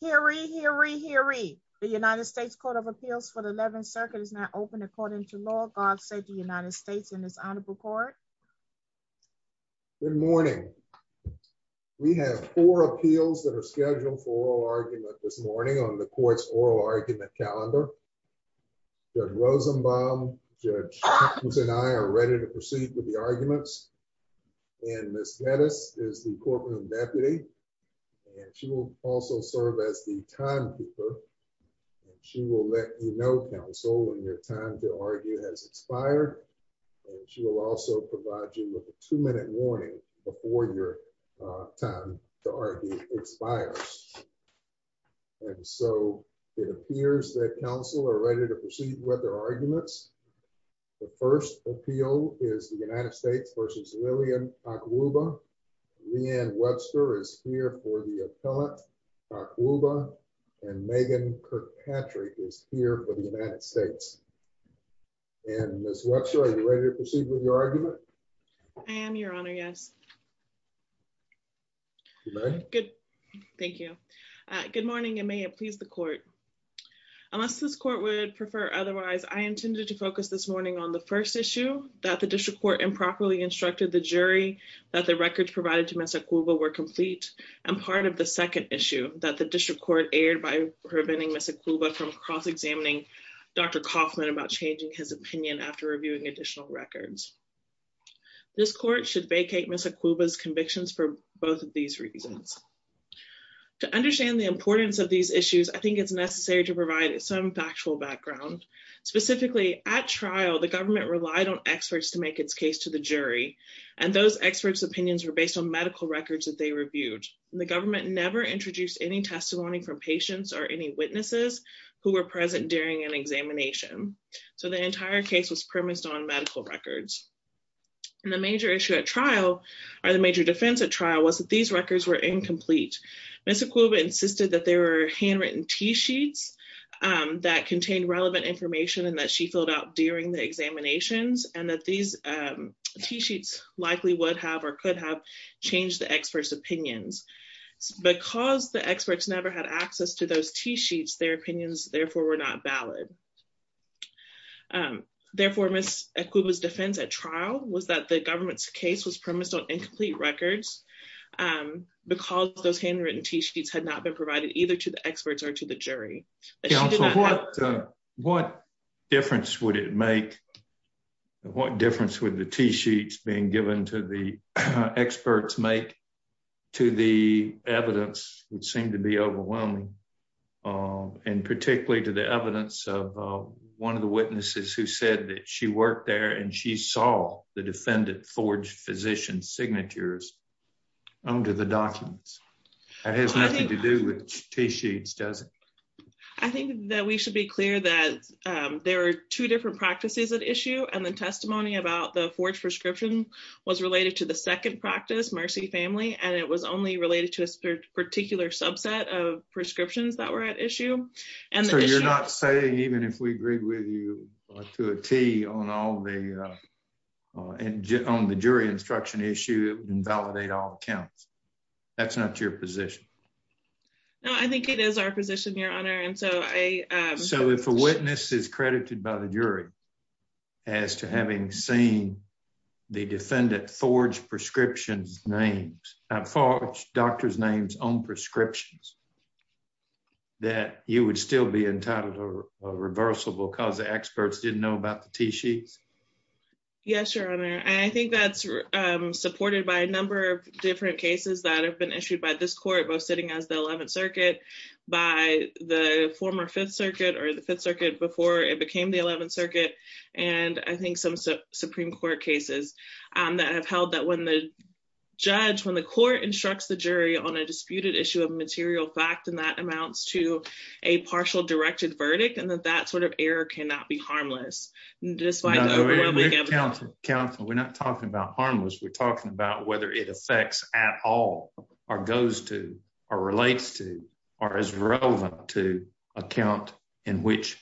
Hear ye, hear ye, hear ye. The United States Court of Appeals for the 11th Circuit is now open according to law. God save the United States in this honorable court. Good morning. We have four appeals that are scheduled for oral argument this morning on the court's oral argument calendar. Judge Rosenbaum, Judge Hopkins and I are ready to proceed with the as the timekeeper. She will let you know, counsel, when your time to argue has expired. She will also provide you with a two-minute warning before your time to argue expires. And so it appears that counsel are ready to proceed with their arguments. The first appeal is the United States v. Lillian Akwuba. Leanne Webster is here for the appellant. Akwuba and Megan Kirkpatrick is here for the United States. And Ms. Webster, are you ready to proceed with your argument? I am, your honor, yes. Thank you. Good morning and may it please the court. Unless this court would prefer otherwise, I intended to focus this morning on the first issue, that the district court improperly instructed the jury that the records provided to Ms. Akwuba were complete and part of the second issue that the district court aired by preventing Ms. Akwuba from cross-examining Dr. Kaufman about changing his opinion after reviewing additional records. This court should vacate Ms. Akwuba's convictions for both of these reasons. To understand the importance of these issues, I think it's necessary to provide some factual background. Specifically, at trial, the government relied on experts to make its case to the jury. And those experts' opinions were based on medical records that they reviewed. And the government never introduced any testimony from patients or any witnesses who were present during an examination. So the entire case was premised on medical records. And the major issue at trial, or the major defense at trial, was that these records were incomplete. Ms. Akwuba insisted that there were handwritten T-sheets that contained relevant information and that she filled out during the examinations and that these T-sheets likely would have or could have changed the experts' opinions. Because the experts never had access to those T-sheets, their opinions therefore were not valid. Therefore, Ms. Akwuba's defense at trial was that the government's case was premised on incomplete records because those handwritten T-sheets had not been provided either to the experts or to the jury. What difference would it make, what difference would the T-sheets being given to the experts make to the evidence, would seem to be overwhelming. And particularly to the evidence of one of the witnesses who said that she worked there and she saw the defendant forge physician signatures under the documents. That has nothing to do with T-sheets, does it? I think that we should be clear that there are two different practices at issue and the testimony about the forge prescription was related to the second practice, Mercy Family, and it was only related to a particular subset of prescriptions that were at issue. So you're not saying even if we agreed with you to a T on the jury instruction issue, it would invalidate all accounts? That's not your position? No, I think it is our position, your honor. So if a witness is credited by the jury as to having seen the defendant forge prescription names, forge doctor's names on prescriptions, that you would still be entitled to a reversible because the experts didn't know about the T-sheets? Yes, your honor. I think that's supported by a number of different cases that have been issued by this court, both sitting as the 11th by the former Fifth Circuit or the Fifth Circuit before it became the 11th Circuit, and I think some Supreme Court cases that have held that when the judge, when the court instructs the jury on a disputed issue of material fact and that amounts to a partial directed verdict and that that sort of error cannot be harmless. Counsel, we're not talking about harmless, we're talking about whether it affects at all or goes to or relates to or is relevant to account in which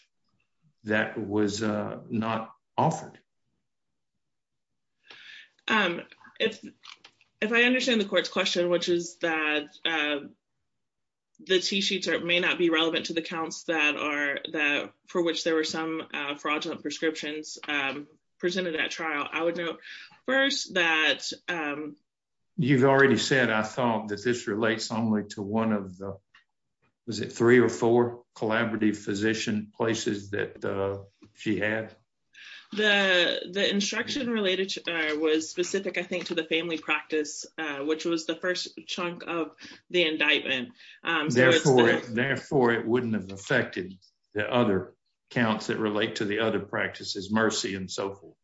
that was not offered. If I understand the court's question, which is that the T-sheets may not be relevant to the counts that are, for which there were some fraudulent prescriptions presented at trial, I would note first that you've already said I thought that this relates only to one of the, was it three or four collaborative physician places that she had? The instruction related to was specific, I think, to the family practice, which was the first chunk of the indictment. Therefore, it wouldn't have affected the other counts that relate to the other practices, mercy and so forth.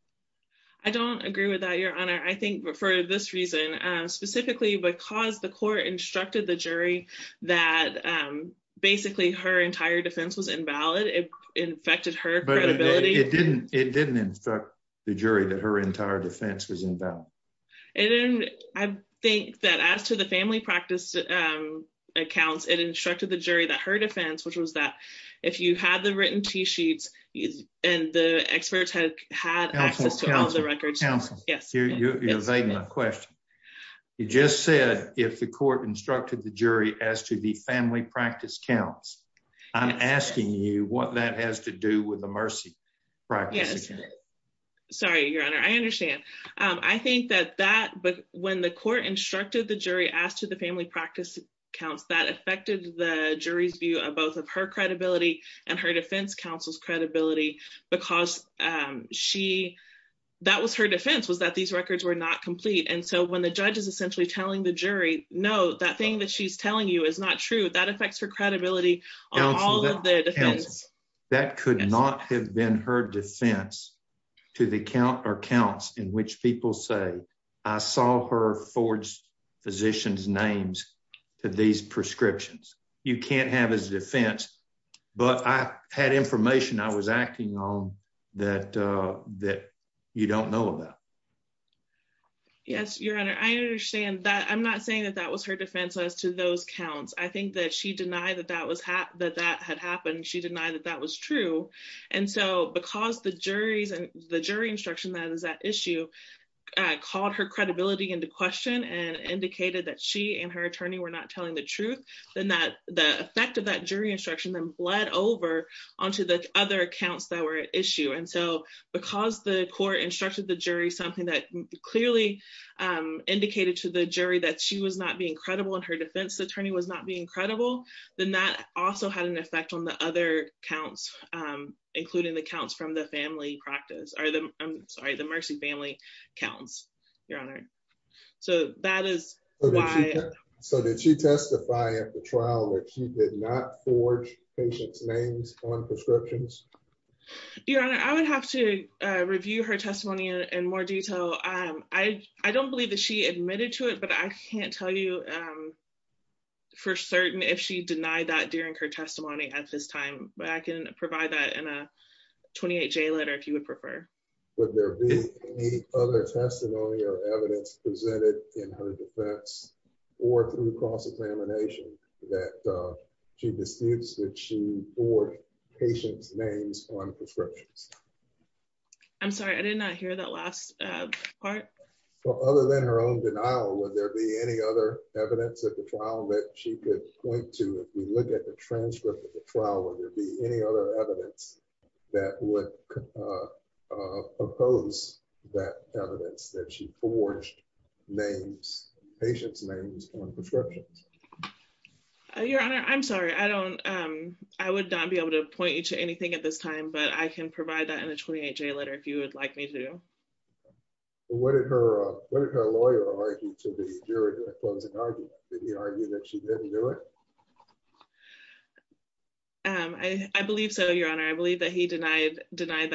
I don't agree with that, Your Honor. I think for this reason, specifically because the court instructed the jury that basically her entire defense was invalid, it infected her credibility. It didn't instruct the jury that her entire defense was invalid. And I think that as to the family practice accounts, it instructed the jury that her T-sheets and the experts had access to all the records. Counselor, you're evading my question. You just said if the court instructed the jury as to the family practice counts, I'm asking you what that has to do with the mercy practice. Yes. Sorry, Your Honor. I understand. I think that when the court instructed the jury as to the family practice counts, that affected the jury's view of both of her credibility and her defense counsel's credibility because that was her defense, was that these records were not complete. And so when the judge is essentially telling the jury, no, that thing that she's telling you is not true, that affects her credibility on all of the defense. That could not have been her defense to the count or counts in which people say, I saw her forge physician's names to these prescriptions. You can't have his defense but I had information I was acting on that you don't know about. Yes, Your Honor. I understand that. I'm not saying that that was her defense as to those counts. I think that she denied that that had happened. She denied that that was true. And so because the jury's and the jury instruction that is that issue called her credibility into question and indicated that she and her attorney were not telling the over onto the other accounts that were at issue. And so because the court instructed the jury, something that clearly indicated to the jury that she was not being credible and her defense attorney was not being credible, then that also had an effect on the other counts, including the counts from the family practice or the, I'm sorry, the mercy family counts. Your Honor. So that is why. So did she testify at the trial that she did not forge patient's names on prescriptions? Your Honor, I would have to review her testimony in more detail. I don't believe that she admitted to it, but I can't tell you for certain if she denied that during her testimony at this time, but I can provide that in a 28 J letter if you would prefer. Would there be any other testimony or evidence presented in her defense or through cross examination that she disputes that she forged patient's names on prescriptions? I'm sorry, I did not hear that last part. Other than her own denial, would there be any other evidence at the trial that she could point to? If we look at the transcript of the trial, would there be any other evidence that would oppose that evidence that she forged names, patient's names on prescriptions? Your Honor, I'm sorry. I would not be able to point you to anything at this time, but I can provide that in a 28 J letter if you would like me to. What did her lawyer argue to the jury during the closing argument? Did he argue that she denied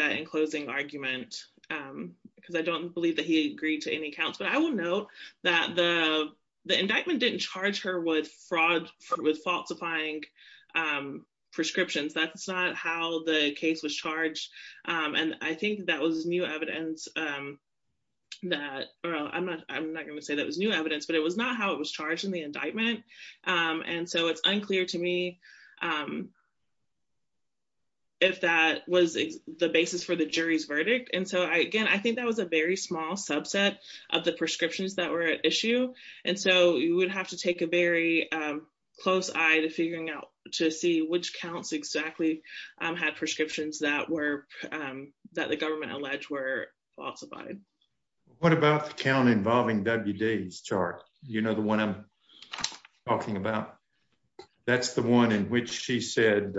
that in closing argument? I don't believe that he agreed to any accounts, but I will note that the indictment didn't charge her with fraud with falsifying prescriptions. That's not how the case was charged. I think that was new evidence. I'm not going to say that was new evidence, but it was not how it was charged in the indictment. And so it's unclear to me if that was the basis for the jury's verdict. And so again, I think that was a very small subset of the prescriptions that were at issue. And so you would have to take a very close eye to figuring out to see which counts exactly had prescriptions that the government alleged were falsified. What about the count involving WD's chart? You know, the one I'm talking about, that's the one in which she said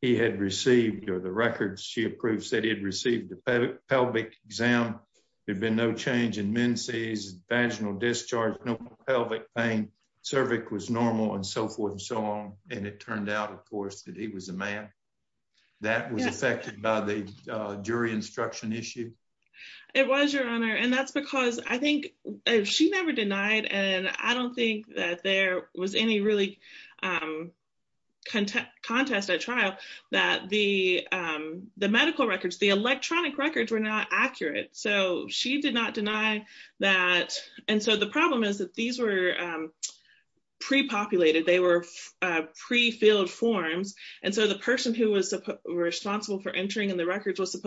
he had received or the records she approved said he had received the pelvic exam. There'd been no change in menses, vaginal discharge, no pelvic pain, cervix was normal and so forth and so on. And it turned out, of course, that he was a man that was affected by the jury instruction issue. It was, Your Honor. And that's because I think she never denied, and I don't think that there was any really contest at trial, that the medical records, the electronic records were not accurate. So she did not deny that. And so the problem is that these were pre-populated. They were pre-filled forms. And so the person who was responsible for entering in the records was the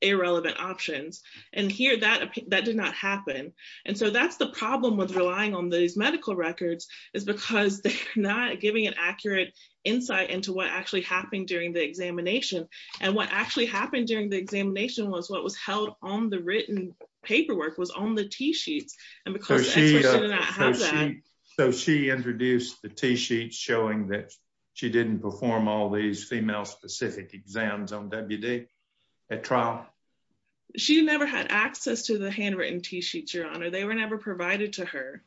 irrelevant options. And here, that did not happen. And so that's the problem with relying on these medical records is because they're not giving an accurate insight into what actually happened during the examination. And what actually happened during the examination was what was held on the written paperwork was on the T-sheets. And because she did not have that. So she introduced the T-sheets showing that she didn't perform all these female-specific exams on WD at trial. She never had access to the handwritten T-sheets, Your Honor. They were never provided to her.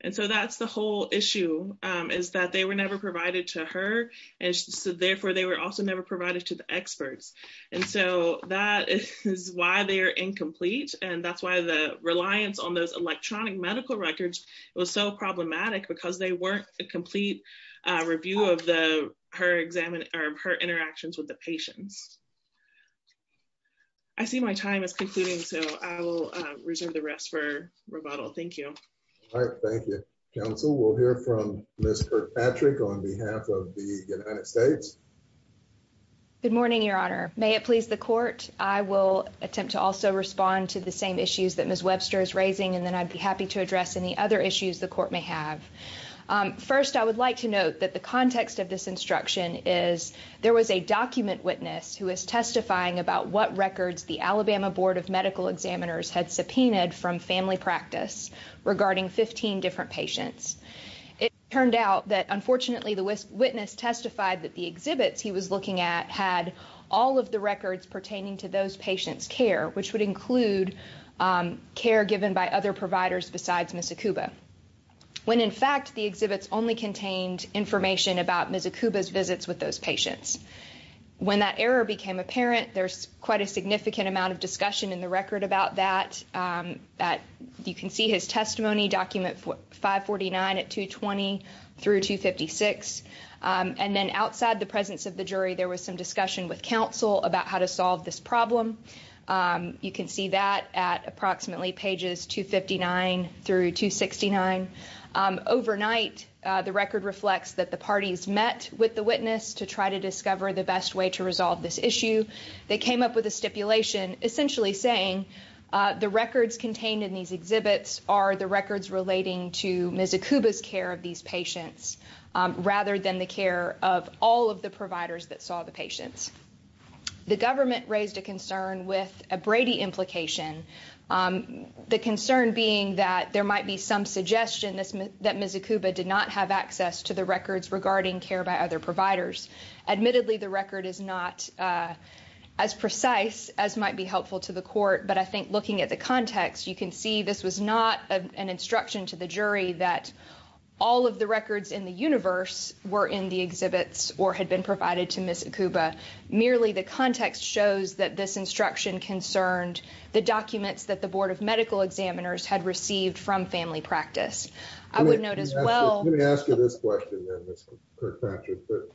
And so that's the whole issue is that they were never provided to her. And so therefore, they were also never provided to the experts. And so that is why they are incomplete. And that's why the reliance on those electronic medical records was so problematic because they weren't a complete review of her interactions with the patients. I see my time is concluding. So I will reserve the rest for rebuttal. Thank you. All right. Thank you, counsel. We'll hear from Ms. Kirkpatrick on behalf of the United States. Good morning, Your Honor. May it please the court. I will attempt to also respond to the same issues that Ms. Webster is raising. And then I'd be happy to address any other issues the court may have. First, I would like to note that the context of this instruction is there was a document witness who is testifying about what records the Alabama Board of Medical Examiners had subpoenaed from family practice regarding 15 different patients. It turned out that, unfortunately, the witness testified that the exhibits he was looking at had all of the records pertaining to those patients' care, which would include care given by other providers besides Miss Akuba, when, in fact, the exhibits only contained information about Miss Akuba's visits with those patients. When that error became apparent, there's quite a significant amount of discussion in the record about that. You can see his testimony document 549 at 220 through 256. And then outside the presence of the jury, there was some discussion with counsel about how to solve this problem. You can see that at approximately pages 259 through 269. Overnight, the record reflects that the parties met with the witness to try to discover the best way to resolve this issue. They came up with a stipulation essentially saying the records contained in these exhibits are the records relating to Miss Akuba's care of these patients rather than the care of all the providers that saw the patients. The government raised a concern with a Brady implication, the concern being that there might be some suggestion that Miss Akuba did not have access to the records regarding care by other providers. Admittedly, the record is not as precise as might be helpful to the court, but I think looking at the context, you can see this was not an instruction to the jury that all of the records in the universe were in the exhibits or had been provided to Miss Akuba. Merely the context shows that this instruction concerned the documents that the board of medical examiners had received from family practice. I would note as well... Let me ask you this question then, Mr. Kirkpatrick, that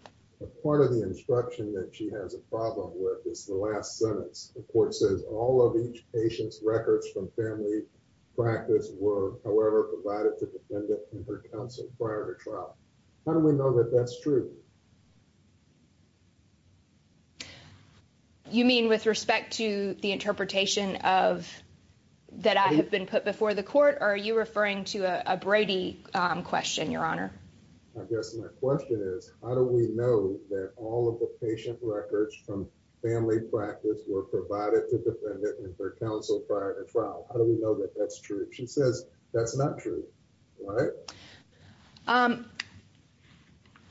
part of the instruction that she has a problem with is the last sentence. The court says all of each patient's records from family practice were, however, provided to the defendant in her counsel prior to trial. How do we know that that's true? You mean with respect to the interpretation that I have been put before the court, or are you referring to a Brady question, Your Honor? I guess my question is, how do we know that all of the patient records from family practice were provided to the defendant in her counsel prior to trial? How do we know that that's true? She says that's not true, right?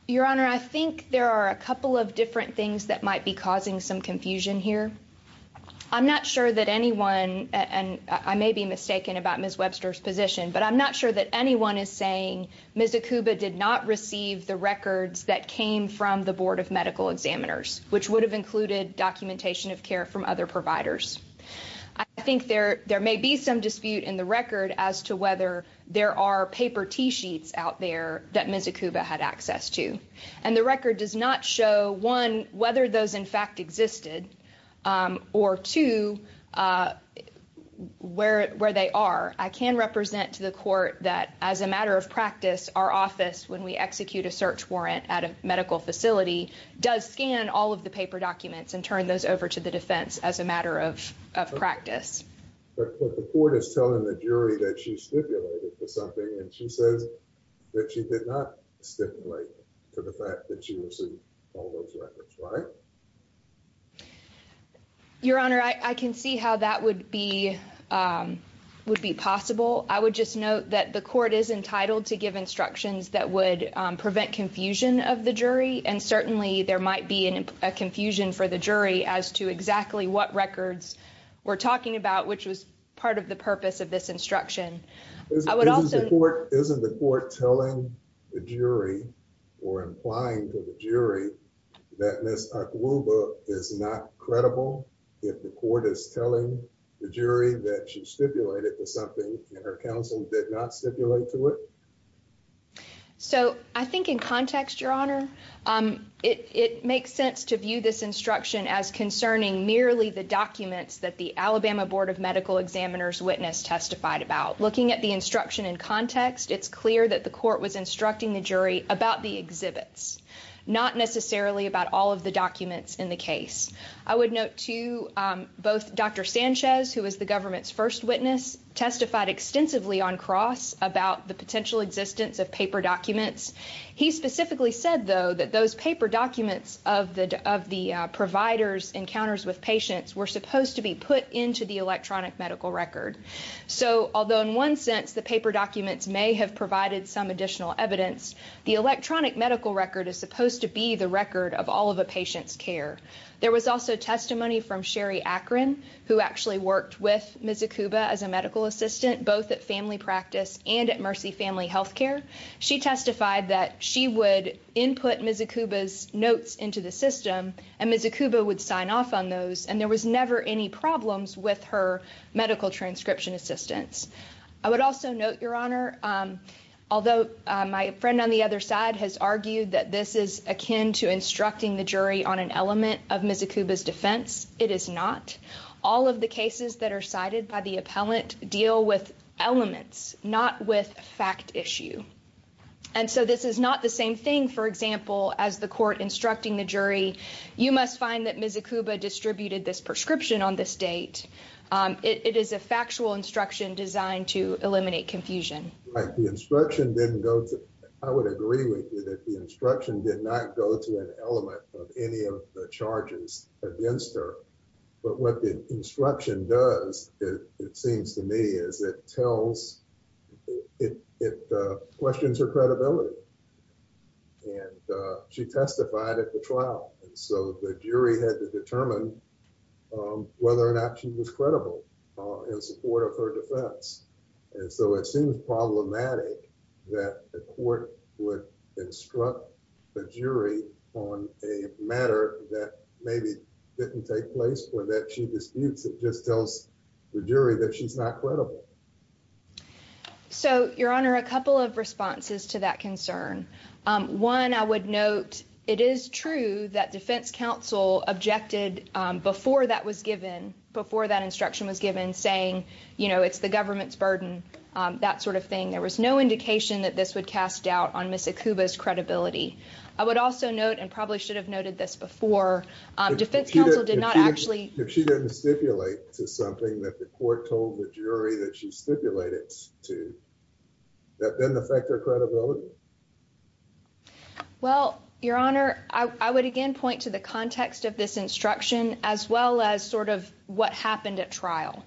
Your Honor, I think there are a couple of different things that might be causing some confusion here. I'm not sure that anyone... I may be mistaken about Miss Webster's position, but I'm not sure that anyone is saying Miss Akuba did not receive the records that came from the board of medical examiners, which would have included documentation of care from other providers. I think there may be some dispute in the record as to whether there are paper T-sheets out there that Miss Akuba had access to. And the record does not show, one, whether those in fact existed, or two, where they are. I can represent to the court that as a matter of practice, our office, when we execute a search warrant at a medical facility, does scan all of the paper documents and turn those over to the defense as a matter of practice. But the court is telling the jury that she stipulated for something, and she says that she did not stipulate for the fact that she received all those records, right? Your Honor, I can see how that would be possible. I would just note that the court is entitled to give instructions that would prevent confusion of the jury, and certainly there might be a confusion for the jury as to exactly what records we're talking about, which was part of the purpose of this instruction. Isn't the court telling the jury or implying to the jury that Miss Akuba is not credible if the court is telling the jury that she stipulated for something and her counsel did not stipulate to it? So I think in context, Your Honor, it makes sense to view this instruction as concerning merely the documents that the Alabama Board of Medical Examiners witness testified about. Looking at the instruction in context, it's clear that the court was instructing the jury about the exhibits, not necessarily about all of the documents in the case. I would note, too, both Dr. Sanchez, who was the government's first witness, testified extensively on cross about the potential existence of paper documents. He specifically said, though, that those paper documents of the providers' encounters with patients were supposed to be put into the electronic medical record. So, although in one sense the paper documents may have provided some additional evidence, the electronic medical record is supposed to be the record of all of a patient's care. There was also testimony from Sherry Akron, who actually worked with Ms. Akuba as a medical assistant, both at family practice and at Mercy Family Health Care. She testified that she would input Ms. Akuba's notes into the system and Ms. Akuba would sign off on those, and there was never any problems with her medical transcription assistance. I would also note, Your Honor, although my friend on the other side has argued that this is akin to that are cited by the appellant deal with elements, not with fact issue. And so, this is not the same thing, for example, as the court instructing the jury, you must find that Ms. Akuba distributed this prescription on this date. It is a factual instruction designed to eliminate confusion. Right, the instruction didn't go to, I would agree with you that the instruction did not go to an element of any of the charges against her. But what the instruction does, it seems to me, is it tells, it questions her credibility. And she testified at the trial. And so, the jury had to determine whether or not she was credible in support of her defense. And so, it seems problematic that the court would instruct the jury on a matter that maybe didn't take place or that she disputes. It just tells the jury that she's not credible. So, Your Honor, a couple of responses to that concern. One, I would note, it is true that defense counsel objected before that was given, before that instruction was given, saying, you know, it's the government's burden, that sort of thing. There was no indication that this would cast doubt on Ms. Akuba's credibility. I would also note, and probably should have noted this before, defense counsel did not actually- If she didn't stipulate to something that the court told the jury that she stipulated to, that didn't affect her credibility? Well, Your Honor, I would again point to the context of this instruction, as well as sort of happened at trial.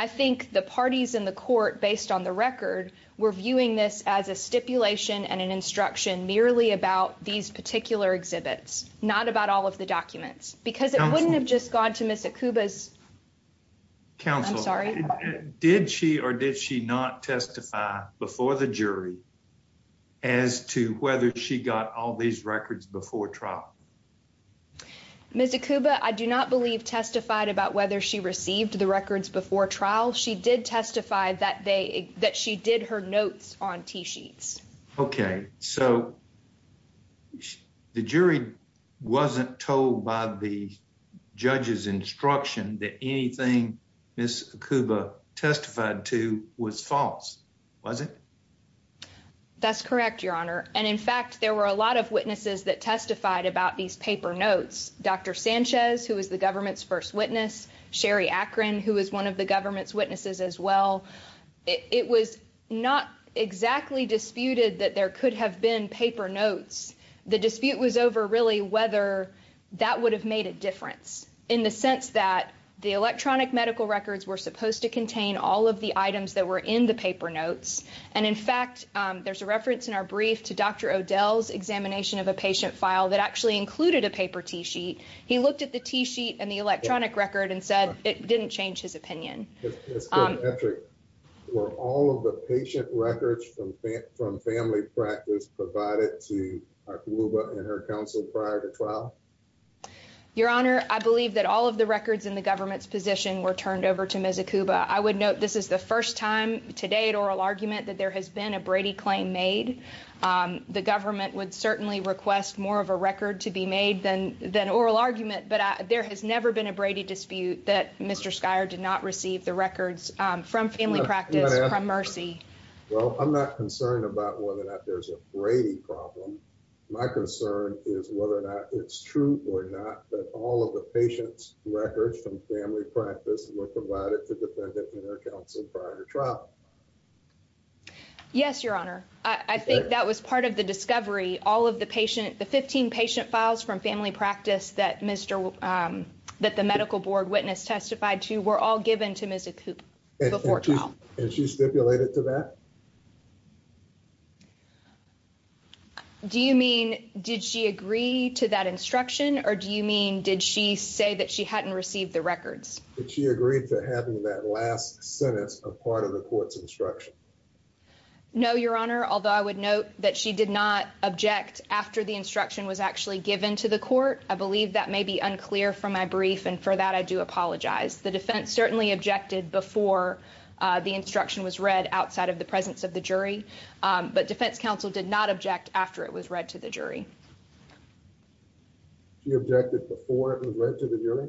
I think the parties in the court, based on the record, were viewing this as a stipulation and an instruction merely about these particular exhibits, not about all of the documents. Because it wouldn't have just gone to Ms. Akuba's- Counsel, did she or did she not testify before the jury as to whether she got all these records before trial? Ms. Akuba, I do not believe testified about whether she received the records before trial. She did testify that she did her notes on T-sheets. Okay, so the jury wasn't told by the judge's instruction that anything Ms. Akuba testified to was false, was it? That's correct, Your Honor. And in fact, there were a lot of witnesses that testified about these paper notes. Dr. Sanchez, who was the government's first witness, Sherry Akron, who was one of the government's witnesses as well. It was not exactly disputed that there could have been paper notes. The dispute was over really whether that would have made a difference, in the sense that the electronic medical records were supposed to contain all of the items that were in the paper notes. And in fact, there's a reference in our brief to Dr. Odell's examination of a paper T-sheet. He looked at the T-sheet and the electronic record and said it didn't change his opinion. Were all of the patient records from family practice provided to Akuba and her counsel prior to trial? Your Honor, I believe that all of the records in the government's position were turned over to Ms. Akuba. I would note this is the first time, to date, oral argument that there has a Brady claim made. The government would certainly request more of a record to be made than oral argument, but there has never been a Brady dispute that Mr. Skyer did not receive the records from family practice from Mercy. Well, I'm not concerned about whether or not there's a Brady problem. My concern is whether or not it's true or not that all of the patient's records from family practice were provided to defendant and her counsel prior to trial. Yes, Your Honor. I think that was part of the discovery. All of the patient, the 15 patient files from family practice that the medical board witness testified to were all given to Ms. Akuba before trial. And she stipulated to that? Do you mean, did she agree to that instruction? Or do you mean, did she say that she hadn't received the records? Did she agree to having that last sentence a part of the court's instruction? No, Your Honor, although I would note that she did not object after the instruction was actually given to the court. I believe that may be unclear from my brief, and for that I do apologize. The defense certainly objected before the instruction was read outside of the presence of the jury, but defense counsel did not object after it was read to the jury. She objected before it was read to the jury?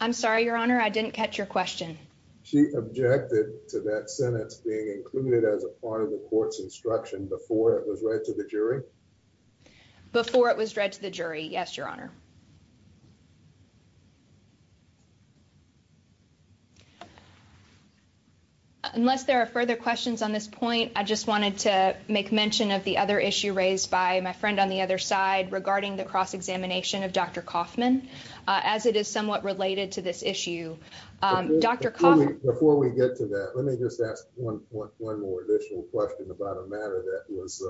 I'm sorry, Your Honor, I didn't catch your question. She objected to that sentence being included as a part of the court's instruction before it was read to the jury? Before it was read to the jury, yes, Your Honor. Unless there are further questions on this point, I just wanted to make mention of the other issue raised by my friend on the other side regarding the cross-examination of Dr. Coffman. Before we get to that, let me just ask one more additional question about a matter that was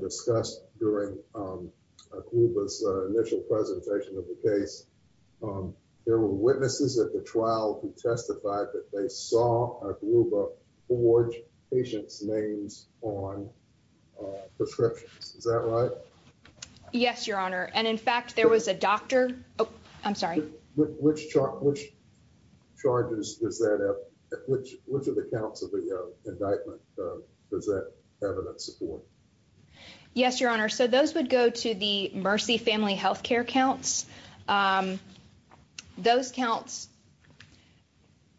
discussed during Akubo's initial presentation of the case. There were witnesses at the trial who testified that they saw Akubo forge patients' names on prescriptions. Is that right? Yes, Your Honor, and in fact there was a doctor, oh, I'm sorry. Which charges, which of the counts of the indictment does that evidence support? Yes, Your Honor, so those would go to the Mercy Family Healthcare counts. Those counts,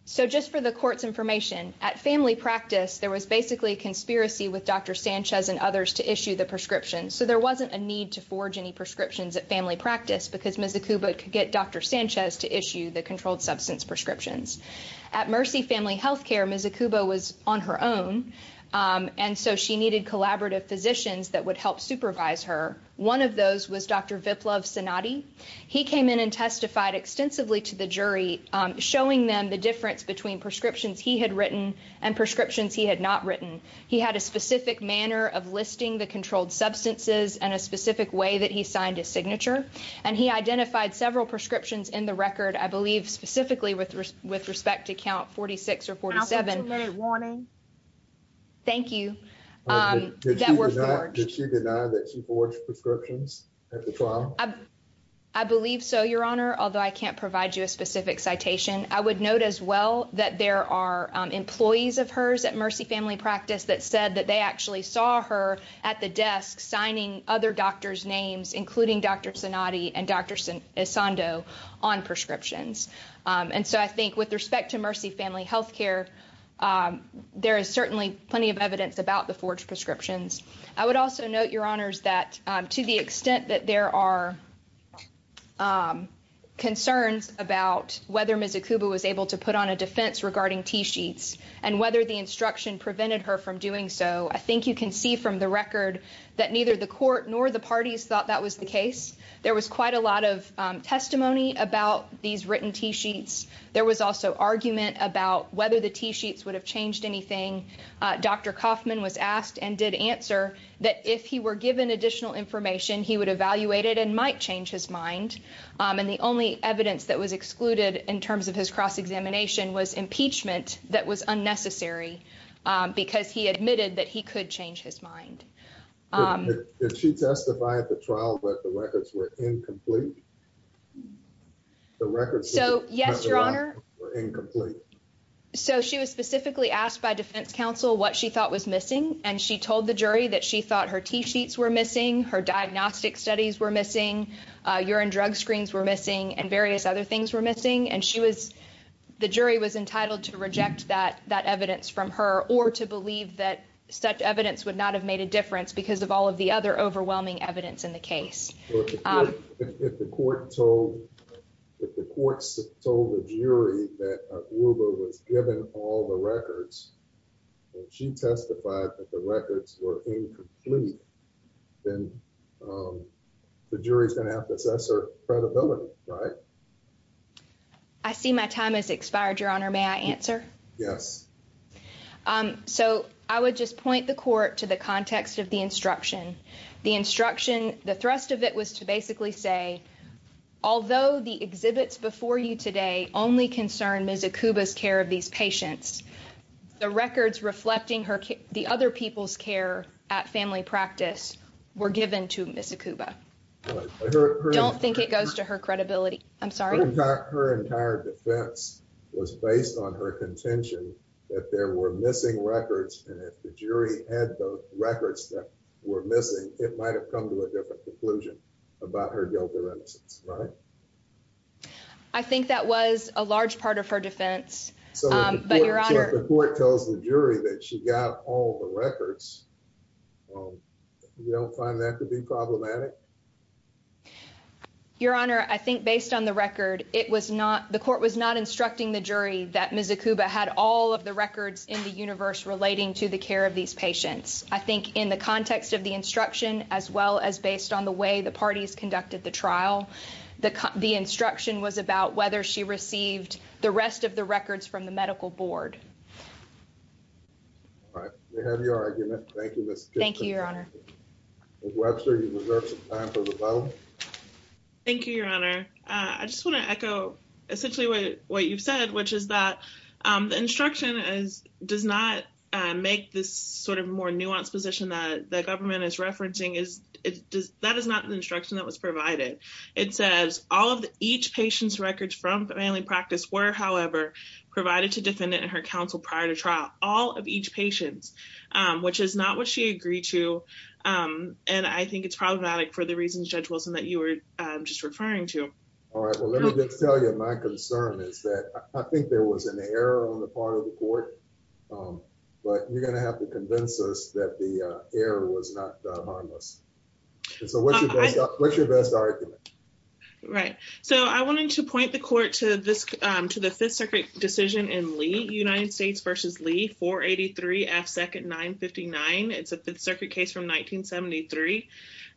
so just for the court's information, at family practice there was basically a conspiracy with Dr. Sanchez and others to issue the prescriptions, so there wasn't a at family practice because Ms. Akubo could get Dr. Sanchez to issue the controlled substance prescriptions. At Mercy Family Healthcare, Ms. Akubo was on her own, and so she needed collaborative physicians that would help supervise her. One of those was Dr. Viplav Sanadi. He came in and testified extensively to the jury, showing them the difference between prescriptions he had written and prescriptions he had not written. He had a specific manner of listing the controlled substances in a specific way that he signed his signature, and he identified several prescriptions in the record, I believe specifically with respect to count 46 or 47. I'll give you a minute warning. Thank you. Did she deny that she forged prescriptions at the trial? I believe so, Your Honor, although I can't provide you a specific citation. I would note as well that there are employees of hers at Mercy Family Practice that said that they saw her at the desk signing other doctors' names, including Dr. Sanadi and Dr. Esondo, on prescriptions. I think with respect to Mercy Family Healthcare, there is certainly plenty of evidence about the forged prescriptions. I would also note, Your Honors, that to the extent that there are concerns about whether Ms. Akubo was able to put on a defense regarding T-sheets and whether the instruction prevented her from doing so, you can see from the record that neither the court nor the parties thought that was the case. There was quite a lot of testimony about these written T-sheets. There was also argument about whether the T-sheets would have changed anything. Dr. Kaufman was asked and did answer that if he were given additional information, he would evaluate it and might change his mind. And the only evidence that was excluded in terms of his cross-examination was impeachment that was unnecessary because he admitted that he could change his mind. Did she testify at the trial that the records were incomplete? So yes, Your Honor. So she was specifically asked by defense counsel what she thought was missing, and she told the jury that she thought her T-sheets were missing, her diagnostic studies were missing, urine drug screens were missing, and various other things were missing. And the jury was entitled to reject that evidence from her or to believe that such evidence would not have made a difference because of all of the other overwhelming evidence in the case. If the court told the jury that Uber was given all the records and she testified that the records were incomplete, then the jury's going to have to assess her credibility, right? I see my time has expired, Your Honor. May I answer? Yes. So I would just point the court to the context of the instruction. The instruction, the thrust of it was to basically say, although the exhibits before you today only concern Ms. Akuba's care of these patients, the records reflecting the other people's care at family practice were given to Ms. Akuba. Don't think it goes to her credibility. I'm sorry? Her entire defense was based on her contention that there were missing records and if the jury had the records that were missing, it might have come to a different conclusion about her guilt or innocence, right? I think that was a large part of her defense. But Your Honor- So if the court tells the jury that she got all the records, you don't find that to be problematic? Your Honor, I think based on the record, it was not, the court was not instructing the jury that Ms. Akuba had all of the records in the universe relating to the care of these patients. I think in the context of the instruction, as well as based on the way the parties conducted the trial, the instruction was about whether she received the rest of the records from the medical board. All right. We have your argument. Thank you, Ms. Akuba. Thank you, Your Honor. Ms. Webster, you reserve some time for rebuttal. Thank you, Your Honor. I just want to echo essentially what you've said, which is that the instruction does not make this sort of more nuanced position that the government is referencing. That is not the instruction that was provided. It says, all of each patient's records from family practice were, however, provided to defendant and her counsel prior to trial. All of each patient's, which is not what she agreed to. And I think it's problematic for the reasons Judge Wilson that you were just referring to. All right. Well, let me just tell you my concern is that I think there was an error on the part of the court, but you're going to have to convince us that the error was not harmless. And so what's your best argument? Right. So I wanted to point the court to this, to the Fifth Circuit decision in Lee, United States v. Lee, 483 F. Second 959. It's a Fifth Circuit case from 1973.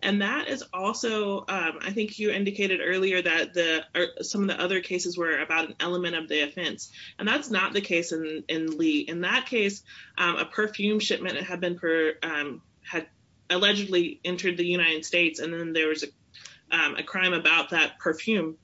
And that is also, I think you indicated earlier that some of the other cases were about an element of the offense. And that's not the case in Lee. In that case, a perfume shipment had allegedly entered the United States, and then there was a crime about that perfume.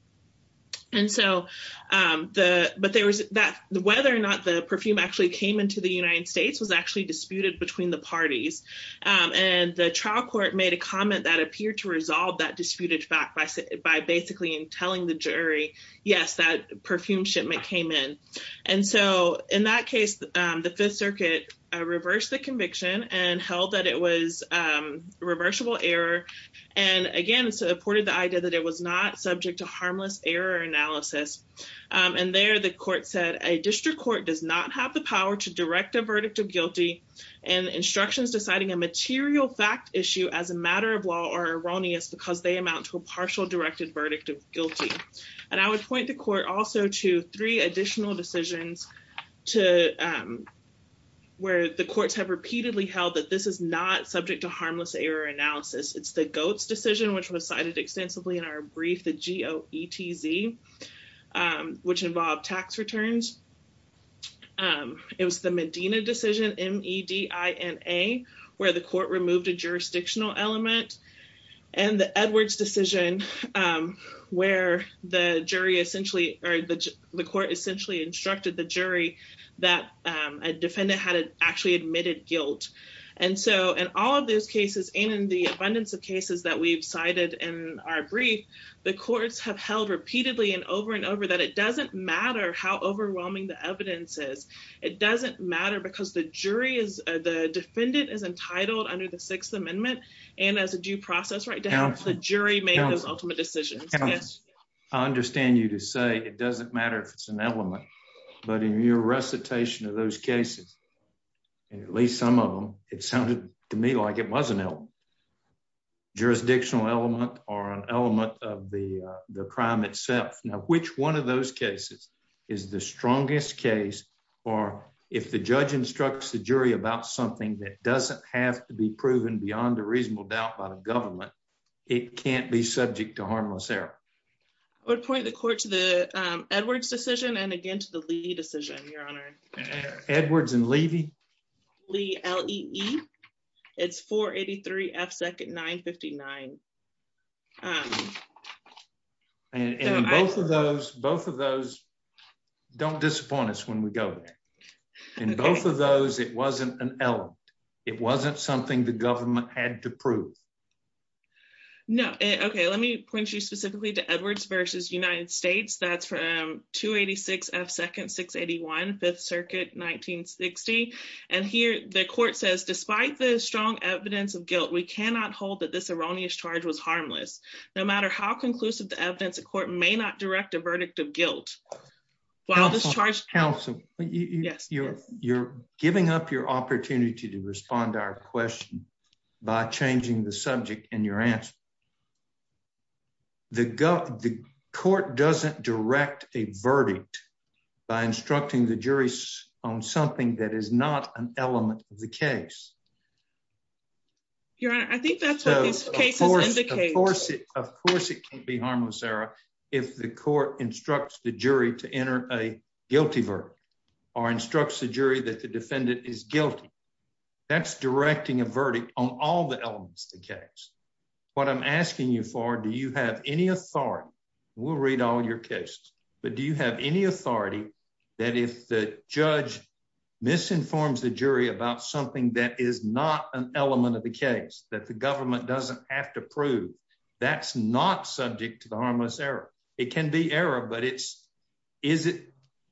And so, but there was that, whether or not the perfume actually came into the United States was actually disputed between the parties. And the trial court made a comment that appeared to resolve that disputed fact by basically telling the jury, yes, that perfume shipment came in. And so in that case, the Fifth Circuit reversed the conviction and held that it was harmless error analysis. And there the court said, a district court does not have the power to direct a verdict of guilty and instructions deciding a material fact issue as a matter of law are erroneous because they amount to a partial directed verdict of guilty. And I would point the court also to three additional decisions to where the courts have repeatedly held that this is not subject to harmless error analysis. It's the Goetz decision, which was cited extensively in our brief, the G-O-E-T-Z, which involved tax returns. It was the Medina decision, M-E-D-I-N-A, where the court removed a jurisdictional element. And the Edwards decision, where the jury essentially, or the court essentially instructed the jury that a defendant had actually admitted guilt. And so in all of those cases and in the abundance of cases that we've cited in our brief, the courts have held repeatedly and over and over that it doesn't matter how overwhelming the evidence is. It doesn't matter because the jury is, the defendant is entitled under the Sixth Amendment and as a due process right to have the jury make those ultimate decisions. I understand you to say it doesn't matter if it's an element, but in your recitation of those cases, and at least some of them, it sounded to me like it was an element. Jurisdictional element or an element of the crime itself. Now, which one of those cases is the strongest case or if the judge instructs the jury about something that doesn't have to be proven beyond a reasonable doubt by the government, it can't be subject to harmless error. I would point the court to the Edwards decision and again to the Lee decision, Your Honor. Edwards and Levy? Lee, L-E-E. It's 483 F second 959. And in both of those, both of those don't disappoint us when we go there. In both of those, it wasn't an element. It wasn't something the government had to prove. No. Okay. Let me point you specifically to Edwards versus United States. That's from 286 F second 681, 5th Circuit, 1960. And here the court says, despite the strong evidence of guilt, we cannot hold that this erroneous charge was harmless. No matter how conclusive the evidence, the court may not direct a verdict of guilt. While this charge... Counsel, you're giving up your opportunity to respond to our question by changing the subject in your answer. The court doesn't direct a verdict by instructing the jury on something that is not an element of the case. Your Honor, I think that's what this case indicates. Of course it can't be harmless error if the court instructs the jury to enter a guilty verdict or instructs the jury that the defendant is guilty. That's directing a verdict on all the elements of the case. What I'm asking you for, do you have any authority? We'll read all your cases, but do you have any authority that if the judge misinforms the jury about something that is not an element of the case, that the government doesn't have to prove, that's not subject to the harmless error? It can be error, but is it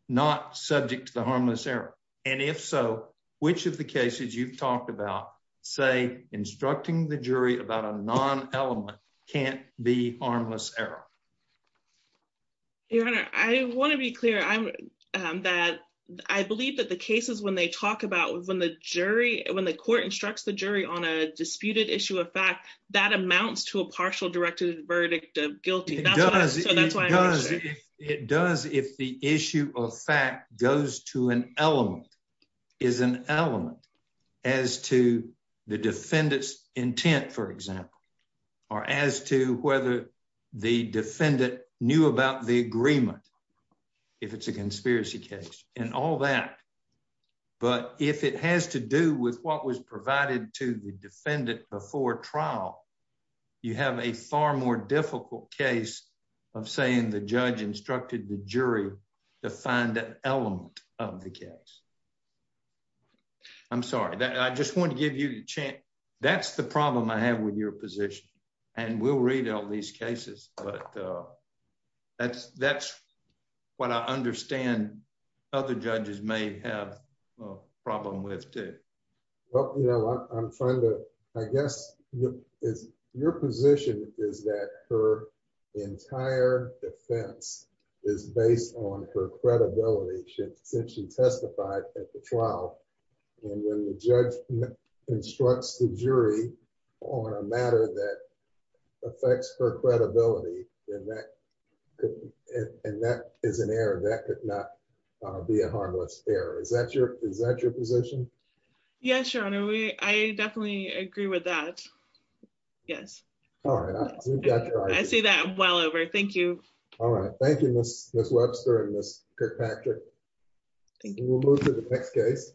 not subject to the harmless error? And if so, which of the cases you've talked about say instructing the jury about a non-element can't be harmless error? Your Honor, I want to be clear that I believe that the cases when they talk about when the court instructs the jury on a disputed issue of fact, that amounts to a partial verdict of guilty. It does if the issue of fact goes to an element, is an element as to the defendant's intent, for example, or as to whether the defendant knew about the agreement, if it's a conspiracy case and all that. But if it has to do with what was provided to the defendant before trial, you have a far more difficult case of saying the judge instructed the jury to find an element of the case. I'm sorry, I just want to give you a chance. That's the problem I have with your position and we'll read out these cases, but that's what I understand other judges may have problem with too. Well, I guess your position is that her entire defense is based on her credibility since she testified at the trial. And when the judge instructs the jury on a matter that affects her credibility and that is an error, that could not be a harmless error. Is that your position? Yes, your honor. I definitely agree with that. Yes. All right. I see that well over. Thank you. All right. Thank you, Ms. Webster and Ms. Kirkpatrick. We'll move to the next case.